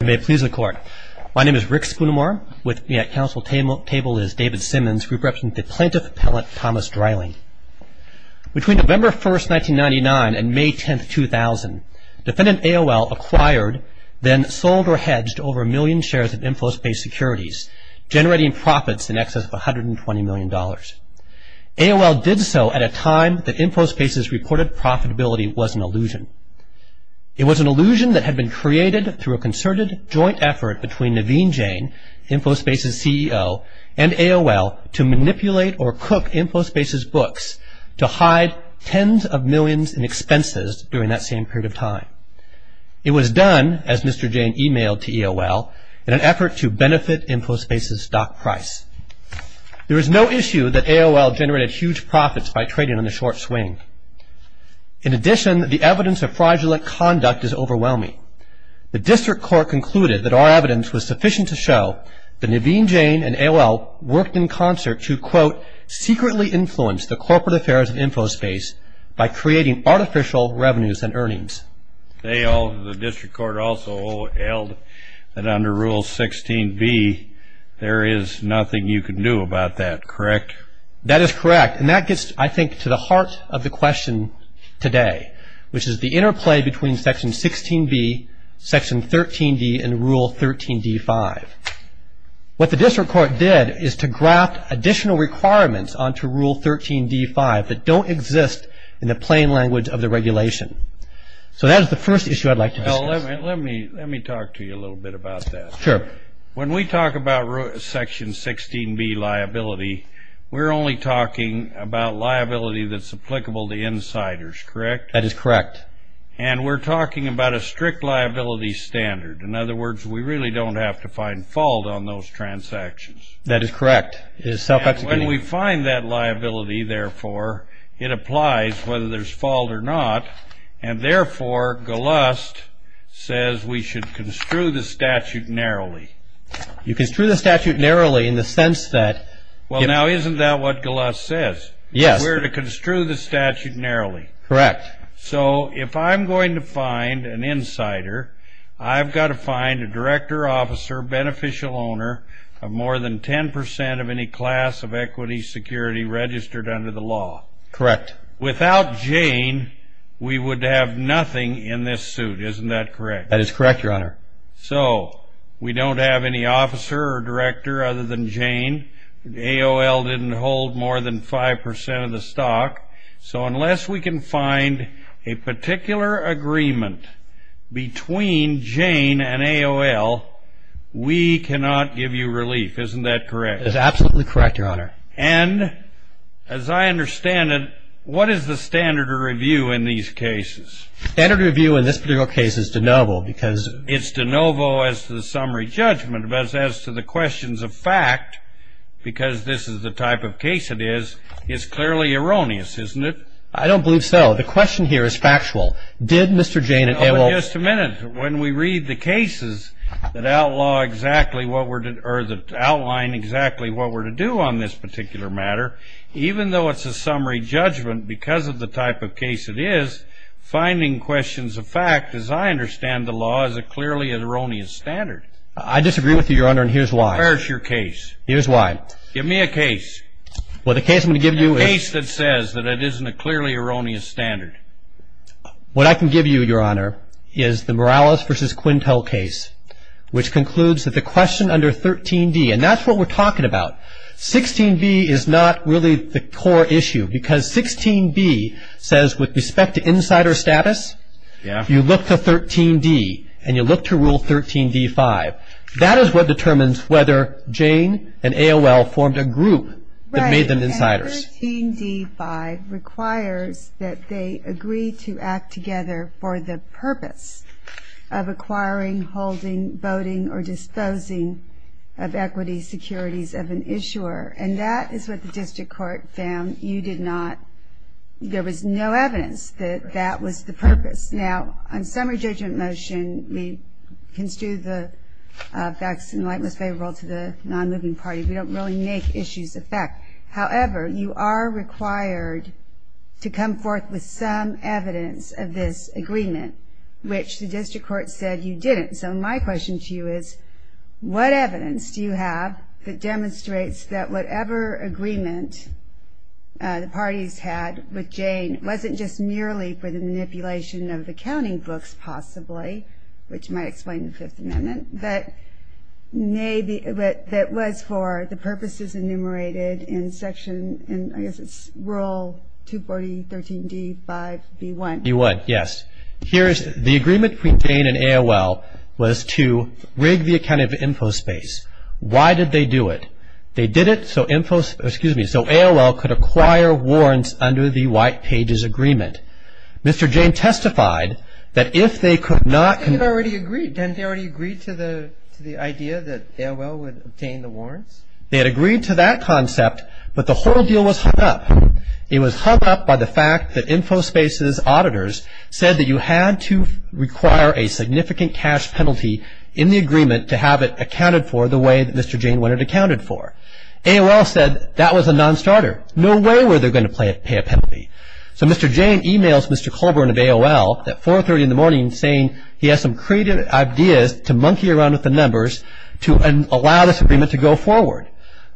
You may please the court. My name is Rick Spoonimore. With me at council table is David Simmons, group rep for the plaintiff appellant Thomas Dreiling. Between November 1st, 1999 and May 10th, 2000, defendant AOL acquired, then sold or hedged over a million shares of InfoSpace securities, generating profits in excess of $120 million. AOL did so at a time that InfoSpace's reported profitability was an illusion. It was an illusion that had been created through a concerted joint effort between Naveen Jain, InfoSpace's CEO, and AOL to manipulate or cook InfoSpace's books to hide tens of millions in expenses during that same period of time. It was done, as Mr. Jain emailed to AOL, in an effort to benefit InfoSpace's stock price. There is no issue that AOL generated huge profits by trading on the short swing. In addition, the evidence of fraudulent conduct is overwhelming. The district court concluded that our evidence was sufficient to show that Naveen Jain and AOL worked in concert to, quote, secretly influence the corporate affairs of InfoSpace by creating artificial revenues and earnings. They all, the district court also held that under Rule 16b, there is nothing you can do about that, correct? That is correct, and that gets, I think, to the heart of the question today, which is the interplay between Section 16b, Section 13d, and Rule 13d-5. What the district court did is to graft additional requirements onto Rule 13d-5 that don't exist in the plain language of the regulation. So that is the first issue I'd like to discuss. Well, let me talk to you a little bit about that. Sure. When we talk about Section 16b liability, we're only talking about liability that's applicable to insiders, correct? That is correct. And we're talking about a strict liability standard. In other words, we really don't have to find fault on those transactions. That is correct. And when we find that liability, therefore, it applies whether there's fault or not, and therefore, Galust says we should construe the statute narrowly. You construe the statute narrowly in the sense that- Well, now, isn't that what Galust says? Yes. We're to construe the statute narrowly. Correct. So if I'm going to find an insider, I've got to find a director, officer, beneficial owner of more than 10% of any class of equity security registered under the law. Correct. Without Jane, we would have nothing in this suit. Isn't that correct? That is correct, Your Honor. So we don't have any officer or director other than Jane. AOL didn't hold more than 5% of the stock. So unless we can find a particular agreement between Jane and AOL, we cannot give you relief. Isn't that correct? That's absolutely correct, Your Honor. And as I understand it, what is the standard of review in these cases? Standard of review in this particular case is de novo because- It's de novo as to the summary judgment. But as to the questions of fact, because this is the type of case it is, it's clearly erroneous, isn't it? I don't believe so. The question here is factual. Did Mr. Jane and AOL- Oh, but just a minute. When we read the cases that outline exactly what we're to do on this particular matter, even though it's a summary judgment because of the type of case it is, finding questions of fact, as I understand the law, is a clearly erroneous standard. I disagree with you, Your Honor, and here's why. Where's your case? Here's why. Give me a case. Well, the case I'm going to give you is- A case that says that it isn't a clearly erroneous standard. What I can give you, Your Honor, is the Morales v. Quintel case, which concludes that the question under 13d, and that's what we're talking about. 16b is not really the core issue because 16b says, with respect to insider status, you look to 13d and you look to Rule 13d-5. That is what determines whether Jane and AOL formed a group that made them insiders. Right, and 13d-5 requires that they agree to act together for the purpose of acquiring, holding, voting, or disposing of equity securities of an issuer, and that is what the district court found you did not. There was no evidence that that was the purpose. Now, on summary judgment motion, we construe the facts in the light most favorable to the non-moving party. We don't really make issues of fact. However, you are required to come forth with some evidence of this agreement, which the district court said you didn't. So my question to you is, what evidence do you have that demonstrates that whatever agreement the parties had with Jane wasn't just merely for the manipulation of the accounting books possibly, which might explain the Fifth Amendment, but that was for the purposes enumerated in section, I guess it's Rule 240-13d-5-b-1. You would, yes. The agreement between Jane and AOL was to rig the accounting of Infospace. Why did they do it? They did it so AOL could acquire warrants under the White Pages Agreement. Mr. Jane testified that if they could not... Didn't they already agree to the idea that AOL would obtain the warrants? They had agreed to that concept, but the whole deal was hung up. It was hung up by the fact that Infospace's auditors said that you had to require a significant cash penalty in the agreement to have it accounted for the way that Mr. Jane wanted it accounted for. AOL said that was a nonstarter. No way were they going to pay a penalty. So Mr. Jane emails Mr. Colburn of AOL at 4.30 in the morning saying he has some creative ideas to monkey around with the numbers to allow this agreement to go forward.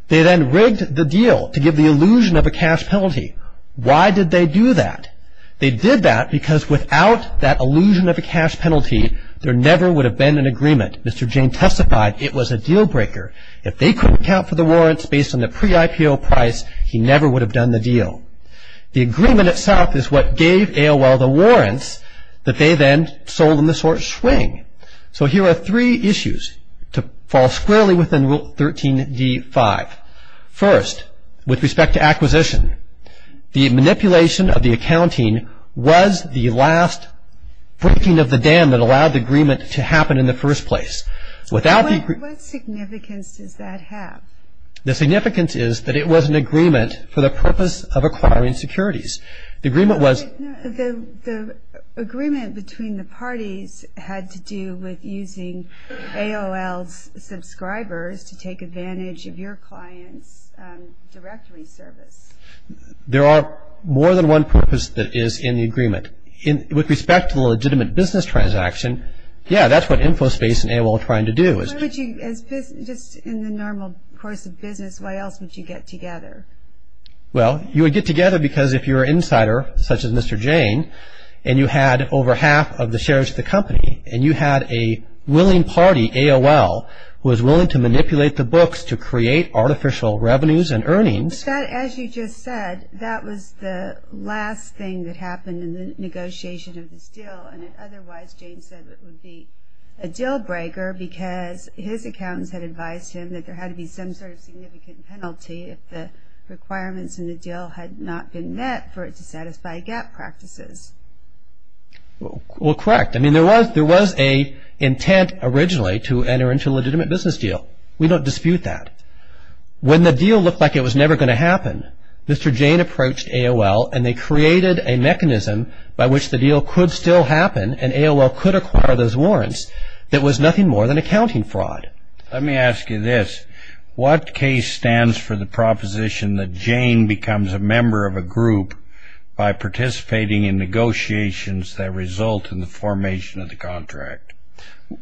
They then rigged the deal to give the illusion of a cash penalty. Why did they do that? They did that because without that illusion of a cash penalty, there never would have been an agreement. Mr. Jane testified it was a deal breaker. If they couldn't account for the warrants based on the pre-IPO price, he never would have done the deal. The agreement itself is what gave AOL the warrants that they then sold in the short swing. So here are three issues to fall squarely within Rule 13.d.5. First, with respect to acquisition, the manipulation of the accounting was the last breaking of the dam that allowed the agreement to happen in the first place. What significance does that have? The significance is that it was an agreement for the purpose of acquiring securities. The agreement between the parties had to do with using AOL's subscribers to take advantage of your client's directory service. There are more than one purpose that is in the agreement. With respect to the legitimate business transaction, yeah, that's what InfoSpace and AOL are trying to do. Just in the normal course of business, why else would you get together? Well, you would get together because if you're an insider, such as Mr. Jane, and you had over half of the shares of the company, and you had a willing party, AOL, who was willing to manipulate the books to create artificial revenues and earnings. But that, as you just said, that was the last thing that happened in the negotiation of this deal, and otherwise Jane said it would be a deal breaker because his accountants had advised him that there had to be some sort of significant penalty if the requirements in the deal had not been met for it to satisfy gap practices. Well, correct. I mean, there was an intent originally to enter into a legitimate business deal. We don't dispute that. When the deal looked like it was never going to happen, Mr. Jane approached AOL, and they created a mechanism by which the deal could still happen, and AOL could acquire those warrants, that was nothing more than accounting fraud. Let me ask you this. What case stands for the proposition that Jane becomes a member of a group by participating in negotiations that result in the formation of the contract?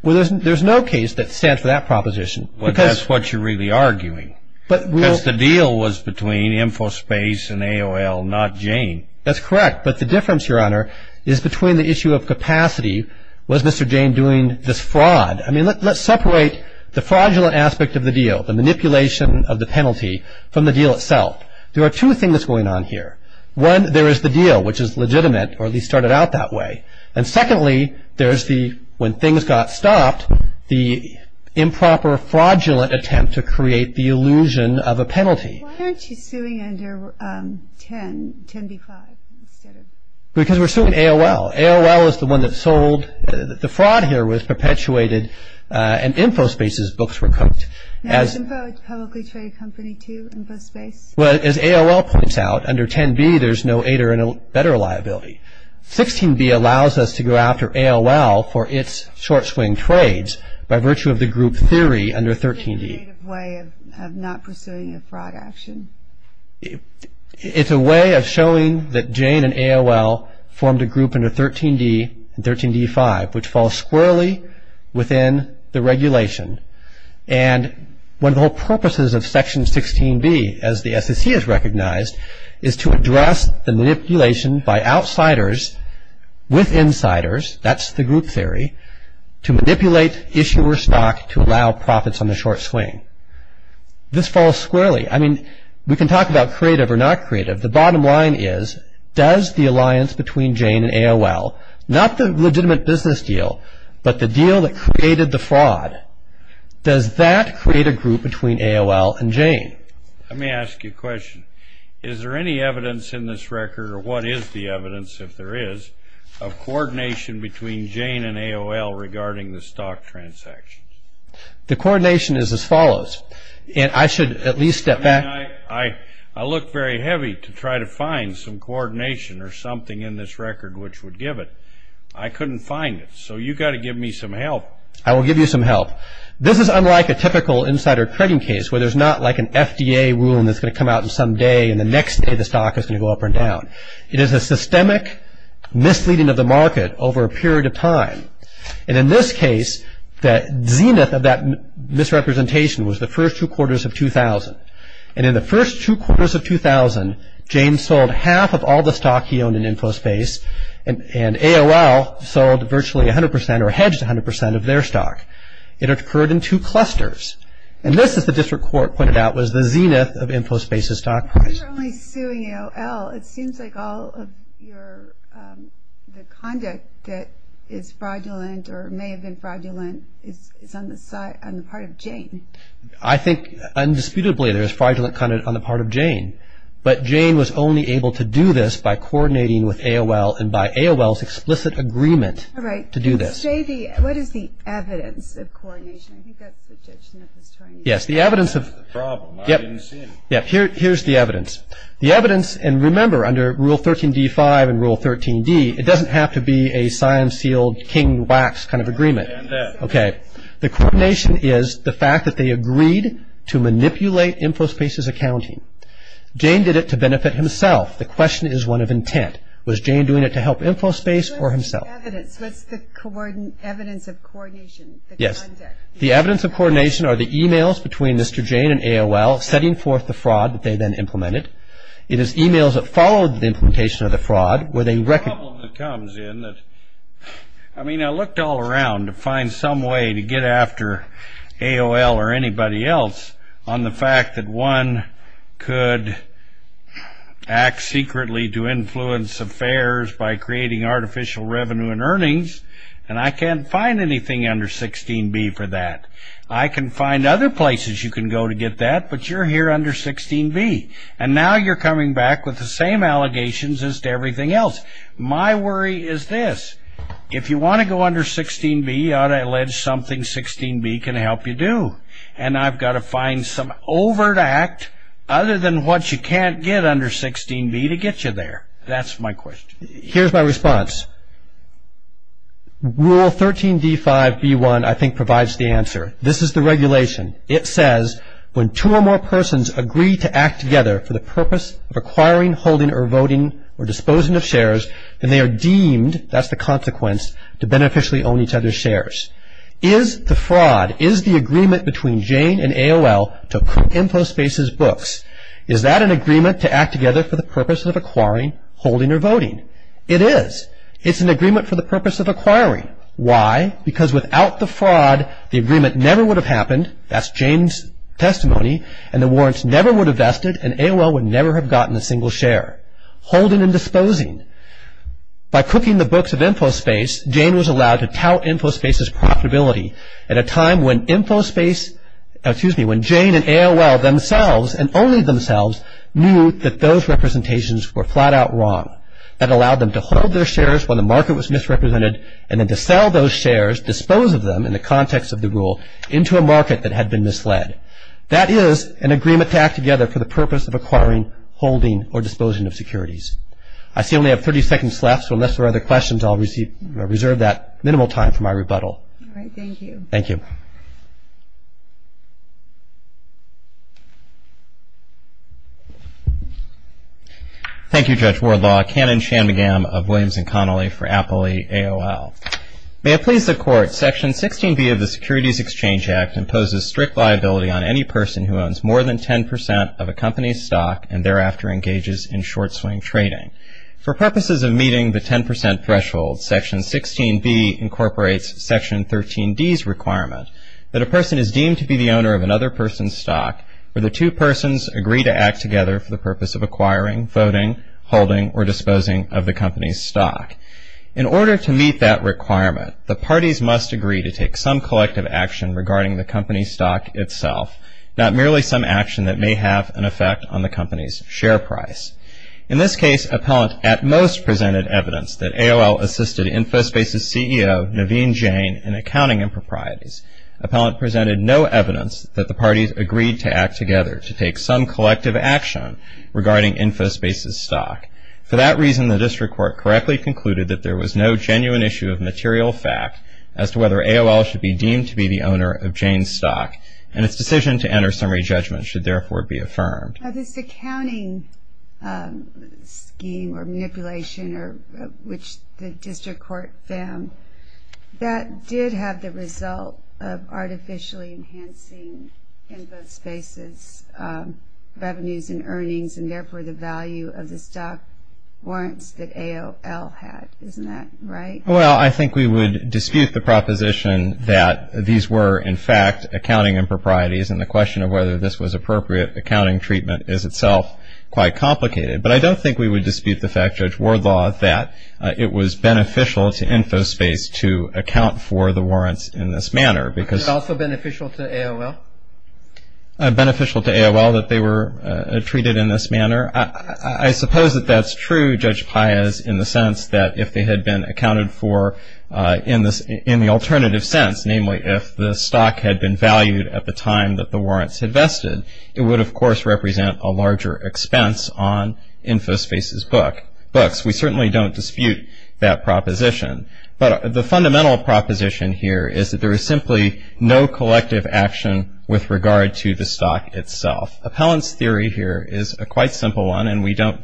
Well, there's no case that stands for that proposition. Well, that's what you're really arguing. Because the deal was between Infospace and AOL, not Jane. That's correct, but the difference, Your Honor, is between the issue of capacity. Was Mr. Jane doing this fraud? I mean, let's separate the fraudulent aspect of the deal, the manipulation of the penalty, from the deal itself. There are two things going on here. One, there is the deal, which is legitimate, or at least started out that way. And secondly, there's the, when things got stopped, the improper fraudulent attempt to create the illusion of a penalty. Why aren't you suing under 10B-5? Because we're suing AOL. AOL is the one that sold. The fraud here was perpetuated, and Infospace's books were cooked. Now, is Info a publicly traded company, too, Infospace? Well, as AOL points out, under 10B, there's no aid or better liability. 16B allows us to go after AOL for its short-swing trades by virtue of the group theory under 13D. Is it a creative way of not pursuing a fraud action? It's a way of showing that Jane and AOL formed a group under 13D and 13D-5, which falls squarely within the regulation. And one of the whole purposes of Section 16B, as the SEC has recognized, is to address the manipulation by outsiders with insiders, that's the group theory, to manipulate issuer stock to allow profits on the short swing. This falls squarely. I mean, we can talk about creative or not creative. The bottom line is, does the alliance between Jane and AOL, not the legitimate business deal, but the deal that created the fraud, does that create a group between AOL and Jane? Let me ask you a question. Is there any evidence in this record, or what is the evidence, if there is, of coordination between Jane and AOL regarding the stock transactions? The coordination is as follows, and I should at least step back. I mean, I look very heavy to try to find some coordination or something in this record which would give it. I couldn't find it, so you've got to give me some help. I will give you some help. This is unlike a typical insider trading case, where there's not like an FDA rule that's going to come out some day, and the next day the stock is going to go up or down. It is a systemic misleading of the market over a period of time. And in this case, the zenith of that misrepresentation was the first two quarters of 2000. And in the first two quarters of 2000, Jane sold half of all the stock he owned in Infospace, and AOL sold virtually 100% or hedged 100% of their stock. It occurred in two clusters. And this, as the district court pointed out, was the zenith of Infospace's stock price. You're only suing AOL. It seems like all of the conduct that is fraudulent or may have been fraudulent is on the part of Jane. I think, indisputably, there is fraudulent conduct on the part of Jane. But Jane was only able to do this by coordinating with AOL and by AOL's explicit agreement to do this. All right. What is the evidence of coordination? I think that's the judge in the pastorium. Yes, the evidence of... That's the problem. I didn't see it. Here's the evidence. The evidence, and remember, under Rule 13d-5 and Rule 13d, it doesn't have to be a sign-sealed, king-wax kind of agreement. Okay. The coordination is the fact that they agreed to manipulate Infospace's accounting. Jane did it to benefit himself. The question is one of intent. Was Jane doing it to help Infospace or himself? What's the evidence? What's the evidence of coordination? Yes. The evidence of coordination are the e-mails between Mr. Jane and AOL setting forth the fraud that they then implemented. It is e-mails that followed the implementation of the fraud where they... The problem that comes in that, I mean, I looked all around to find some way to get after AOL or anybody else on the fact that one could act secretly to influence affairs by creating artificial revenue and earnings, and I can't find anything under 16b for that. I can find other places you can go to get that, but you're here under 16b, and now you're coming back with the same allegations as to everything else. My worry is this. If you want to go under 16b, I would allege something 16b can help you do, and I've got to find some overt act other than what you can't get under 16b to get you there. That's my question. Here's my response. Rule 13d5b1, I think, provides the answer. This is the regulation. It says, when two or more persons agree to act together for the purpose of acquiring, holding, or voting or disposing of shares, then they are deemed, that's the consequence, to beneficially own each other's shares. Is the fraud, is the agreement between Jane and AOL to print InfoSpace's books, is that an agreement to act together for the purpose of acquiring, holding, or voting? It is. It's an agreement for the purpose of acquiring. Why? Because without the fraud, the agreement never would have happened, that's Jane's testimony, and the warrants never would have vested, and AOL would never have gotten a single share. Holding and disposing. By cooking the books of InfoSpace, Jane was allowed to tout InfoSpace's profitability at a time when InfoSpace, excuse me, when Jane and AOL themselves, and only themselves, knew that those representations were flat out wrong. That allowed them to hold their shares when the market was misrepresented and then to sell those shares, dispose of them in the context of the rule, into a market that had been misled. That is an agreement to act together for the purpose of acquiring, holding, or disposing of securities. I see I only have 30 seconds left, so unless there are other questions I'll reserve that minimal time for my rebuttal. All right, thank you. Thank you. Thank you, Judge Wardlaw. Kannon Shanmugam of Williams & Connolly for Appley AOL. May it please the Court, Section 16B of the Securities Exchange Act imposes strict liability on any person who owns more than 10% of a company's stock and thereafter engages in short-swing trading. For purposes of meeting the 10% threshold, that any person who owns more than 10% of a company's stock that a person is deemed to be the owner of another person's stock where the two persons agree to act together for the purpose of acquiring, voting, holding, or disposing of the company's stock. In order to meet that requirement, the parties must agree to take some collective action regarding the company's stock itself, not merely some action that may have an effect on the company's share price. In this case, appellant at most presented evidence that AOL assisted Infospace's CEO, Naveen Jain, in accounting improprieties. Appellant presented no evidence that the parties agreed to act together to take some collective action regarding Infospace's stock. For that reason, the District Court correctly concluded that there was no genuine issue of material fact as to whether AOL should be deemed to be the owner of Jain's stock, and its decision to enter summary judgment should therefore be affirmed. This accounting scheme or manipulation which the District Court found, that did have the result of artificially enhancing Infospace's revenues and earnings, and therefore the value of the stock warrants that AOL had. Isn't that right? Well, I think we would dispute the proposition that these were in fact accounting improprieties, and the question of whether this was appropriate accounting treatment is itself quite complicated. But I don't think we would dispute the fact, Judge Wardlaw, that it was beneficial to Infospace to account for the warrants in this manner. Was it also beneficial to AOL? Beneficial to AOL that they were treated in this manner? I suppose that that's true, Judge Paiz, in the sense that if they had been accounted for in the alternative sense, namely if the stock had been valued at the time that the warrants had vested, it would of course represent a larger expense on Infospace's books. We certainly don't dispute that proposition. But the fundamental proposition here is that there is simply no collective action with regard to the stock itself. Appellant's theory here is a quite simple one, and we don't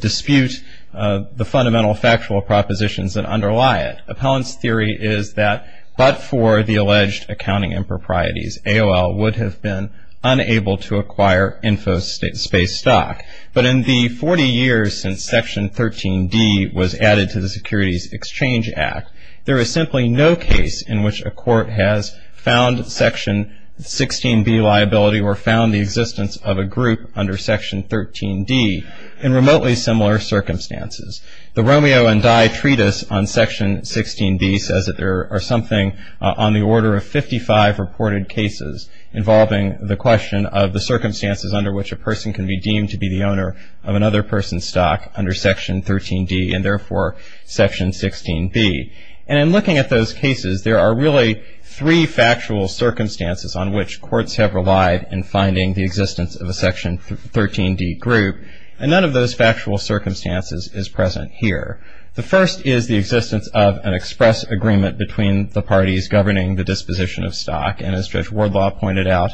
dispute the fundamental factual propositions that underlie it. Appellant's theory is that but for the alleged accounting improprieties, AOL would have been unable to acquire Infospace stock. But in the 40 years since Section 13D was added to the Securities Exchange Act, there is simply no case in which a court has found Section 16B liability or found the existence of a group under Section 13D in remotely similar circumstances. The Romeo and Die Treatise on Section 16B says that there are something on the order of 55 reported cases involving the question of the circumstances under which a person can be deemed to be the owner of another person's stock under Section 13D and therefore Section 16B. And in looking at those cases, there are really three factual circumstances on which courts have relied in finding the existence of a Section 13D group, and none of those factual circumstances is present here. The first is the existence of an express agreement between the parties governing the disposition of stock, and as Judge Wardlaw pointed out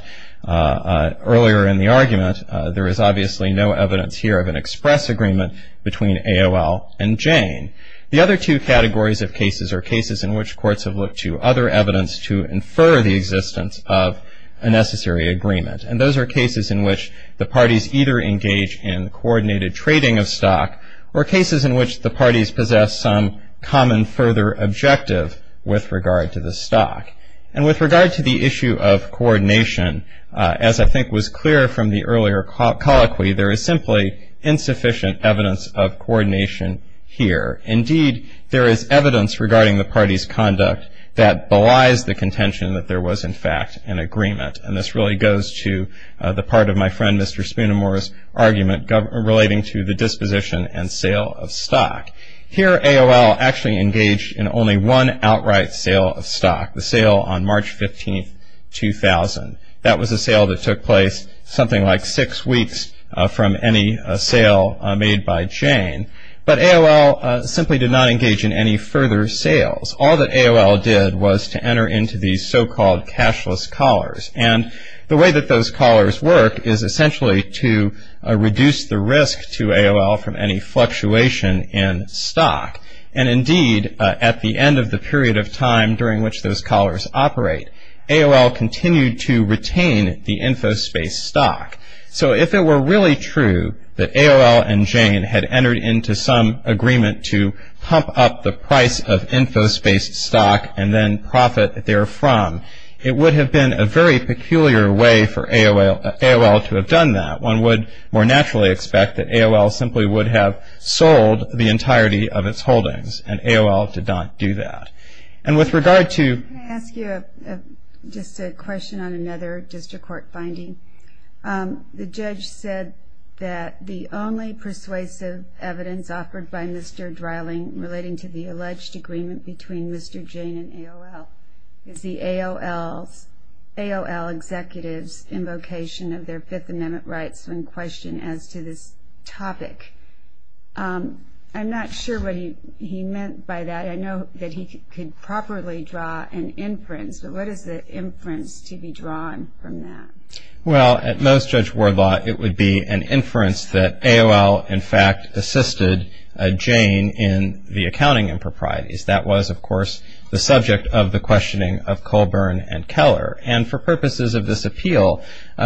earlier in the argument, there is obviously no evidence here of an express agreement between AOL and Jane. The other two categories of cases are cases in which courts have looked to other evidence to infer the existence of a necessary agreement, and those are cases in which the parties either engage in coordinated trading of stock or cases in which the parties possess some common further objective with regard to the stock. And with regard to the issue of coordination, as I think was clear from the earlier colloquy, there is simply insufficient evidence of coordination here. Indeed, there is evidence regarding the parties' conduct that belies the contention that there was in fact an agreement, and this really goes to the part of my friend Mr. Spoonamore's argument relating to the disposition and sale of stock. Here, AOL actually engaged in only one outright sale of stock, the sale on March 15, 2000. That was a sale that took place something like six weeks from any sale made by Jane, but AOL simply did not engage in any further sales. All that AOL did was to enter into these so-called cashless collars, and the way that those collars work is essentially to reduce the risk to AOL from any fluctuation in stock. And indeed, at the end of the period of time during which those collars operate, AOL continued to retain the InfoSpace stock. So if it were really true that AOL and Jane had entered into some agreement to pump up the price of InfoSpace stock and then profit therefrom, it would have been a very peculiar way for AOL to have done that. One would more naturally expect that AOL simply would have sold the entirety of its holdings, and AOL did not do that. And with regard to... Can I ask you just a question on another district court finding? The judge said that the only persuasive evidence offered by Mr. Dreiling relating to the alleged agreement between Mr. Jane and AOL is the AOL executive's invocation of their Fifth Amendment rights when questioned as to this topic. I'm not sure what he meant by that. I know that he could properly draw an inference, but what is the inference to be drawn from that? Well, at most, Judge Wardlaw, it would be an inference that AOL, in fact, assisted Jane in the accounting improprieties. That was, of course, the subject of the questioning of Colburn and Keller. And for purposes of this appeal,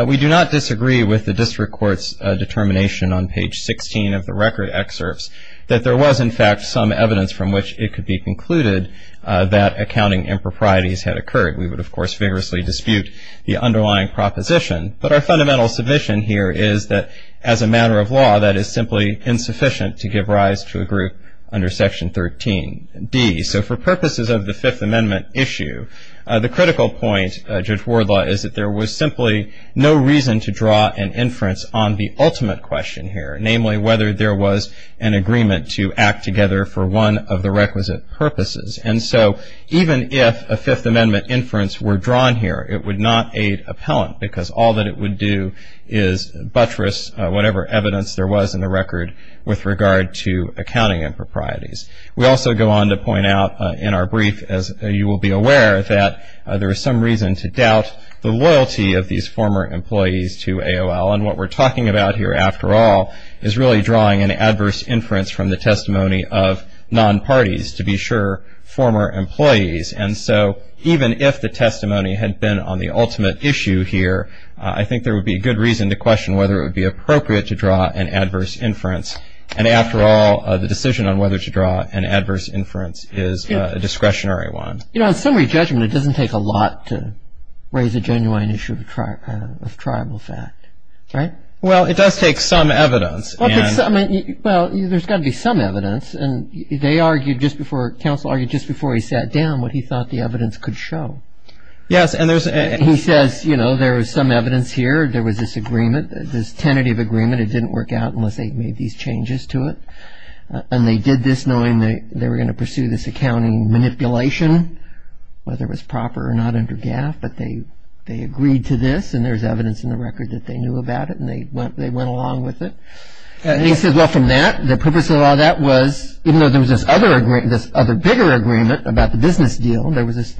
we do not disagree with the district court's determination on page 16 of the record excerpts that there was, in fact, some evidence from which it could be concluded that accounting improprieties had occurred. We would, of course, vigorously dispute the underlying proposition. But our fundamental submission here is that, as a matter of law, that is simply insufficient to give rise to a group under Section 13. So for purposes of the Fifth Amendment issue, the critical point, Judge Wardlaw, is that there was simply no reason to draw an inference on the ultimate question here, namely whether there was an agreement to act together for one of the requisite purposes. And so even if a Fifth Amendment inference were drawn here, it would not aid appellant because all that it would do is buttress whatever evidence there was in the record with regard to accounting improprieties. We also go on to point out in our brief, as you will be aware, that there is some reason to doubt the loyalty of these former employees to AOL. And what we're talking about here, after all, is really drawing an adverse inference from the testimony of non-parties, to be sure, former employees. And so even if the testimony had been on the ultimate issue here, I think there would be good reason to question whether it would be appropriate to draw an adverse inference. And after all, the decision on whether to draw an adverse inference is a discretionary one. You know, in summary judgment, it doesn't take a lot to raise a genuine issue of tribal fact, right? Well, it does take some evidence. Well, there's got to be some evidence. And they argued just before, counsel argued just before he sat down what he thought the evidence could show. Yes. And he says, you know, there is some evidence here. There was this agreement, this tentative agreement. It didn't work out unless they made these changes to it. And they did this knowing they were going to pursue this accounting manipulation, whether it was proper or not under GAF. But they agreed to this, and there's evidence in the record that they knew about it, and they went along with it. And he says, well, from that, the purpose of all that was, even though there was this other bigger agreement about the business deal, there was this,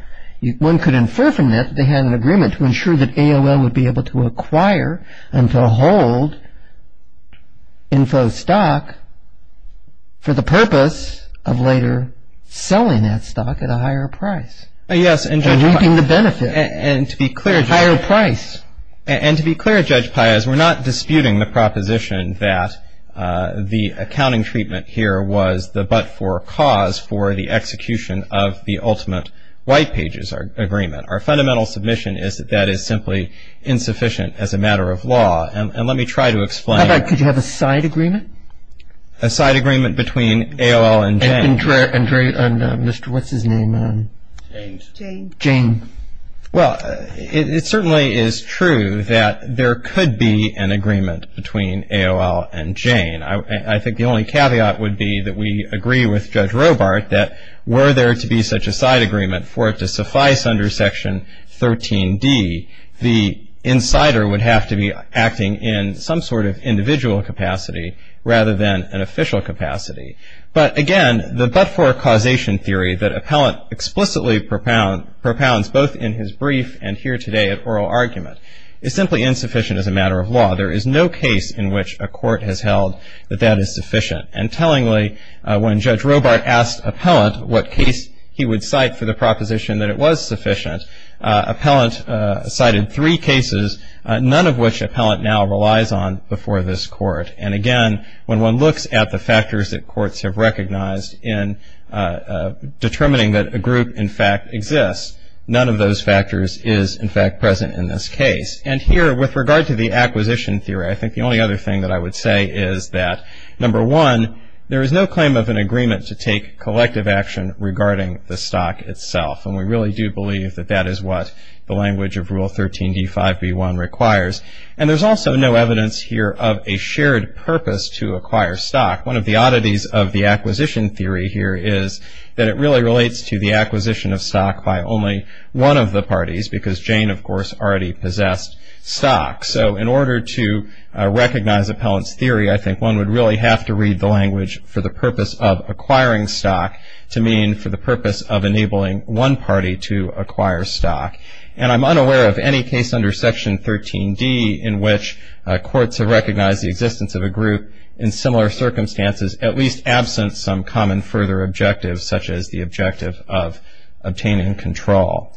one could infer from that, that they had an agreement to ensure that AOL would be able to acquire and to hold info stock for the purpose of later selling that stock at a higher price. Yes. And reaping the benefit. And to be clear. At a higher price. And to be clear, Judge Pias, we're not disputing the proposition that the accounting treatment here was the but-for cause for the execution of the ultimate white pages agreement. Our fundamental submission is that that is simply insufficient as a matter of law. And let me try to explain. How about could you have a side agreement? A side agreement between AOL and Jane. And Mr. what's his name? Jane. Jane. Well, it certainly is true that there could be an agreement between AOL and Jane. I think the only caveat would be that we agree with Judge Robart that were there to be such a side agreement for it to suffice under Section 13D, the insider would have to be acting in some sort of individual capacity rather than an official capacity. But, again, the but-for causation theory that Appellant explicitly propounds both in his brief and here today at oral argument is simply insufficient as a matter of law. There is no case in which a court has held that that is sufficient. And tellingly, when Judge Robart asked Appellant what case he would cite for the proposition that it was sufficient, Appellant cited three cases, none of which Appellant now relies on before this court. And, again, when one looks at the factors that courts have recognized in determining that a group, in fact, exists, none of those factors is, in fact, present in this case. And here, with regard to the acquisition theory, I think the only other thing that I would say is that, number one, there is no claim of an agreement to take collective action regarding the stock itself. And we really do believe that that is what the language of Rule 13d5b1 requires. And there's also no evidence here of a shared purpose to acquire stock. One of the oddities of the acquisition theory here is that it really relates to the acquisition of stock by only one of the parties because Jane, of course, already possessed stock. So in order to recognize Appellant's theory, I think one would really have to read the language for the purpose of acquiring stock to mean for the purpose of enabling one party to acquire stock. And I'm unaware of any case under Section 13d in which courts have recognized the existence of a group in similar circumstances, at least absent some common further objective, such as the objective of obtaining control.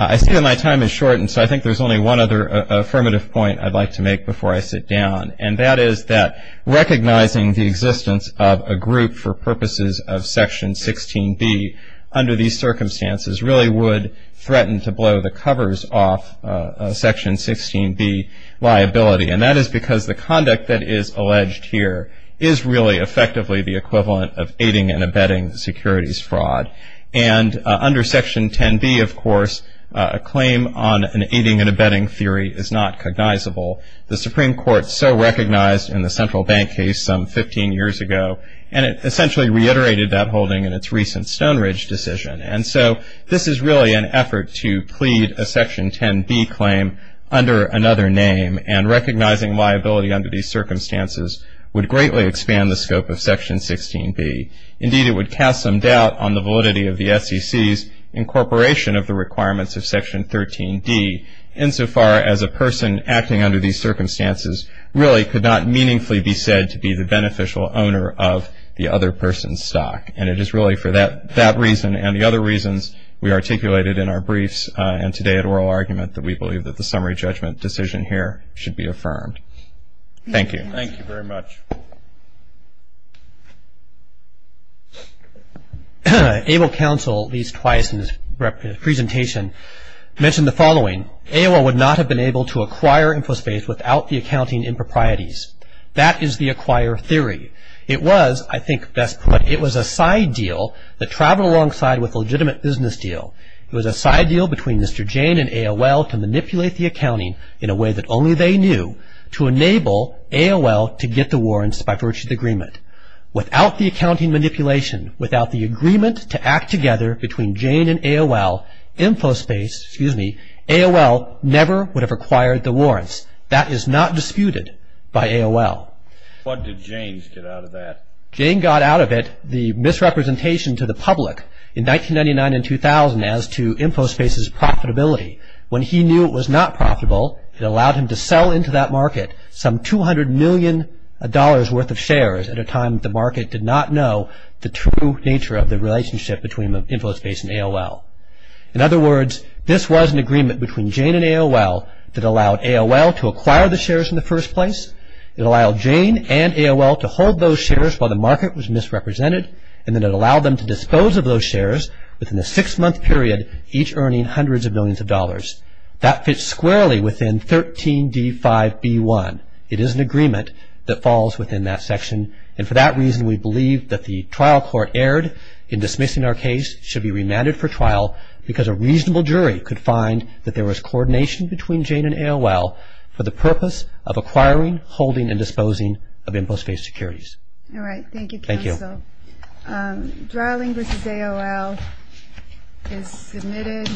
I see that my time is short, and so I think there's only one other affirmative point I'd like to make before I sit down, and that is that recognizing the existence of a group for purposes of Section 16b under these circumstances really would threaten to blow the covers off Section 16b liability. And that is because the conduct that is alleged here is really effectively the equivalent of aiding and abetting securities fraud. And under Section 10b, of course, a claim on an aiding and abetting theory is not cognizable. The Supreme Court so recognized in the Central Bank case some 15 years ago, and it essentially reiterated that holding in its recent Stone Ridge decision. And so this is really an effort to plead a Section 10b claim under another name, and recognizing liability under these circumstances would greatly expand the scope of Section 16b. Indeed, it would cast some doubt on the validity of the SEC's incorporation of the requirements of Section 13d, insofar as a person acting under these circumstances really could not meaningfully be said to be the beneficial owner of the other person's stock. And it is really for that reason and the other reasons we articulated in our briefs and today at oral argument that we believe that the summary judgment decision here should be affirmed. Thank you. Thank you very much. AOL Council, at least twice in this presentation, mentioned the following. AOL would not have been able to acquire InfoSpace without the accounting improprieties. That is the acquire theory. It was, I think best put, it was a side deal that traveled alongside with a legitimate business deal. It was a side deal between Mr. Jane and AOL to manipulate the accounting in a way that only they knew to enable AOL to get the warrants by virtue of the agreement. Without the accounting manipulation, without the agreement to act together between Jane and AOL, InfoSpace, excuse me, AOL never would have acquired the warrants. That is not disputed by AOL. What did Jane get out of that? Jane got out of it the misrepresentation to the public in 1999 and 2000 as to InfoSpace's profitability. When he knew it was not profitable, it allowed him to sell into that market some $200 million worth of shares at a time the market did not know the true nature of the relationship between InfoSpace and AOL. In other words, this was an agreement between Jane and AOL that allowed AOL to acquire the shares in the first place. It allowed Jane and AOL to hold those shares while the market was misrepresented. And then it allowed them to dispose of those shares within a six-month period, each earning hundreds of millions of dollars. That fits squarely within 13D5B1. It is an agreement that falls within that section. And for that reason, we believe that the trial court erred in dismissing our case, should be remanded for trial because a reasonable jury could find that there was coordination between Jane and AOL for the purpose of acquiring, holding, and disposing of InfoSpace securities. All right. Thank you, counsel. Thank you. Drawling v. AOL is submitted.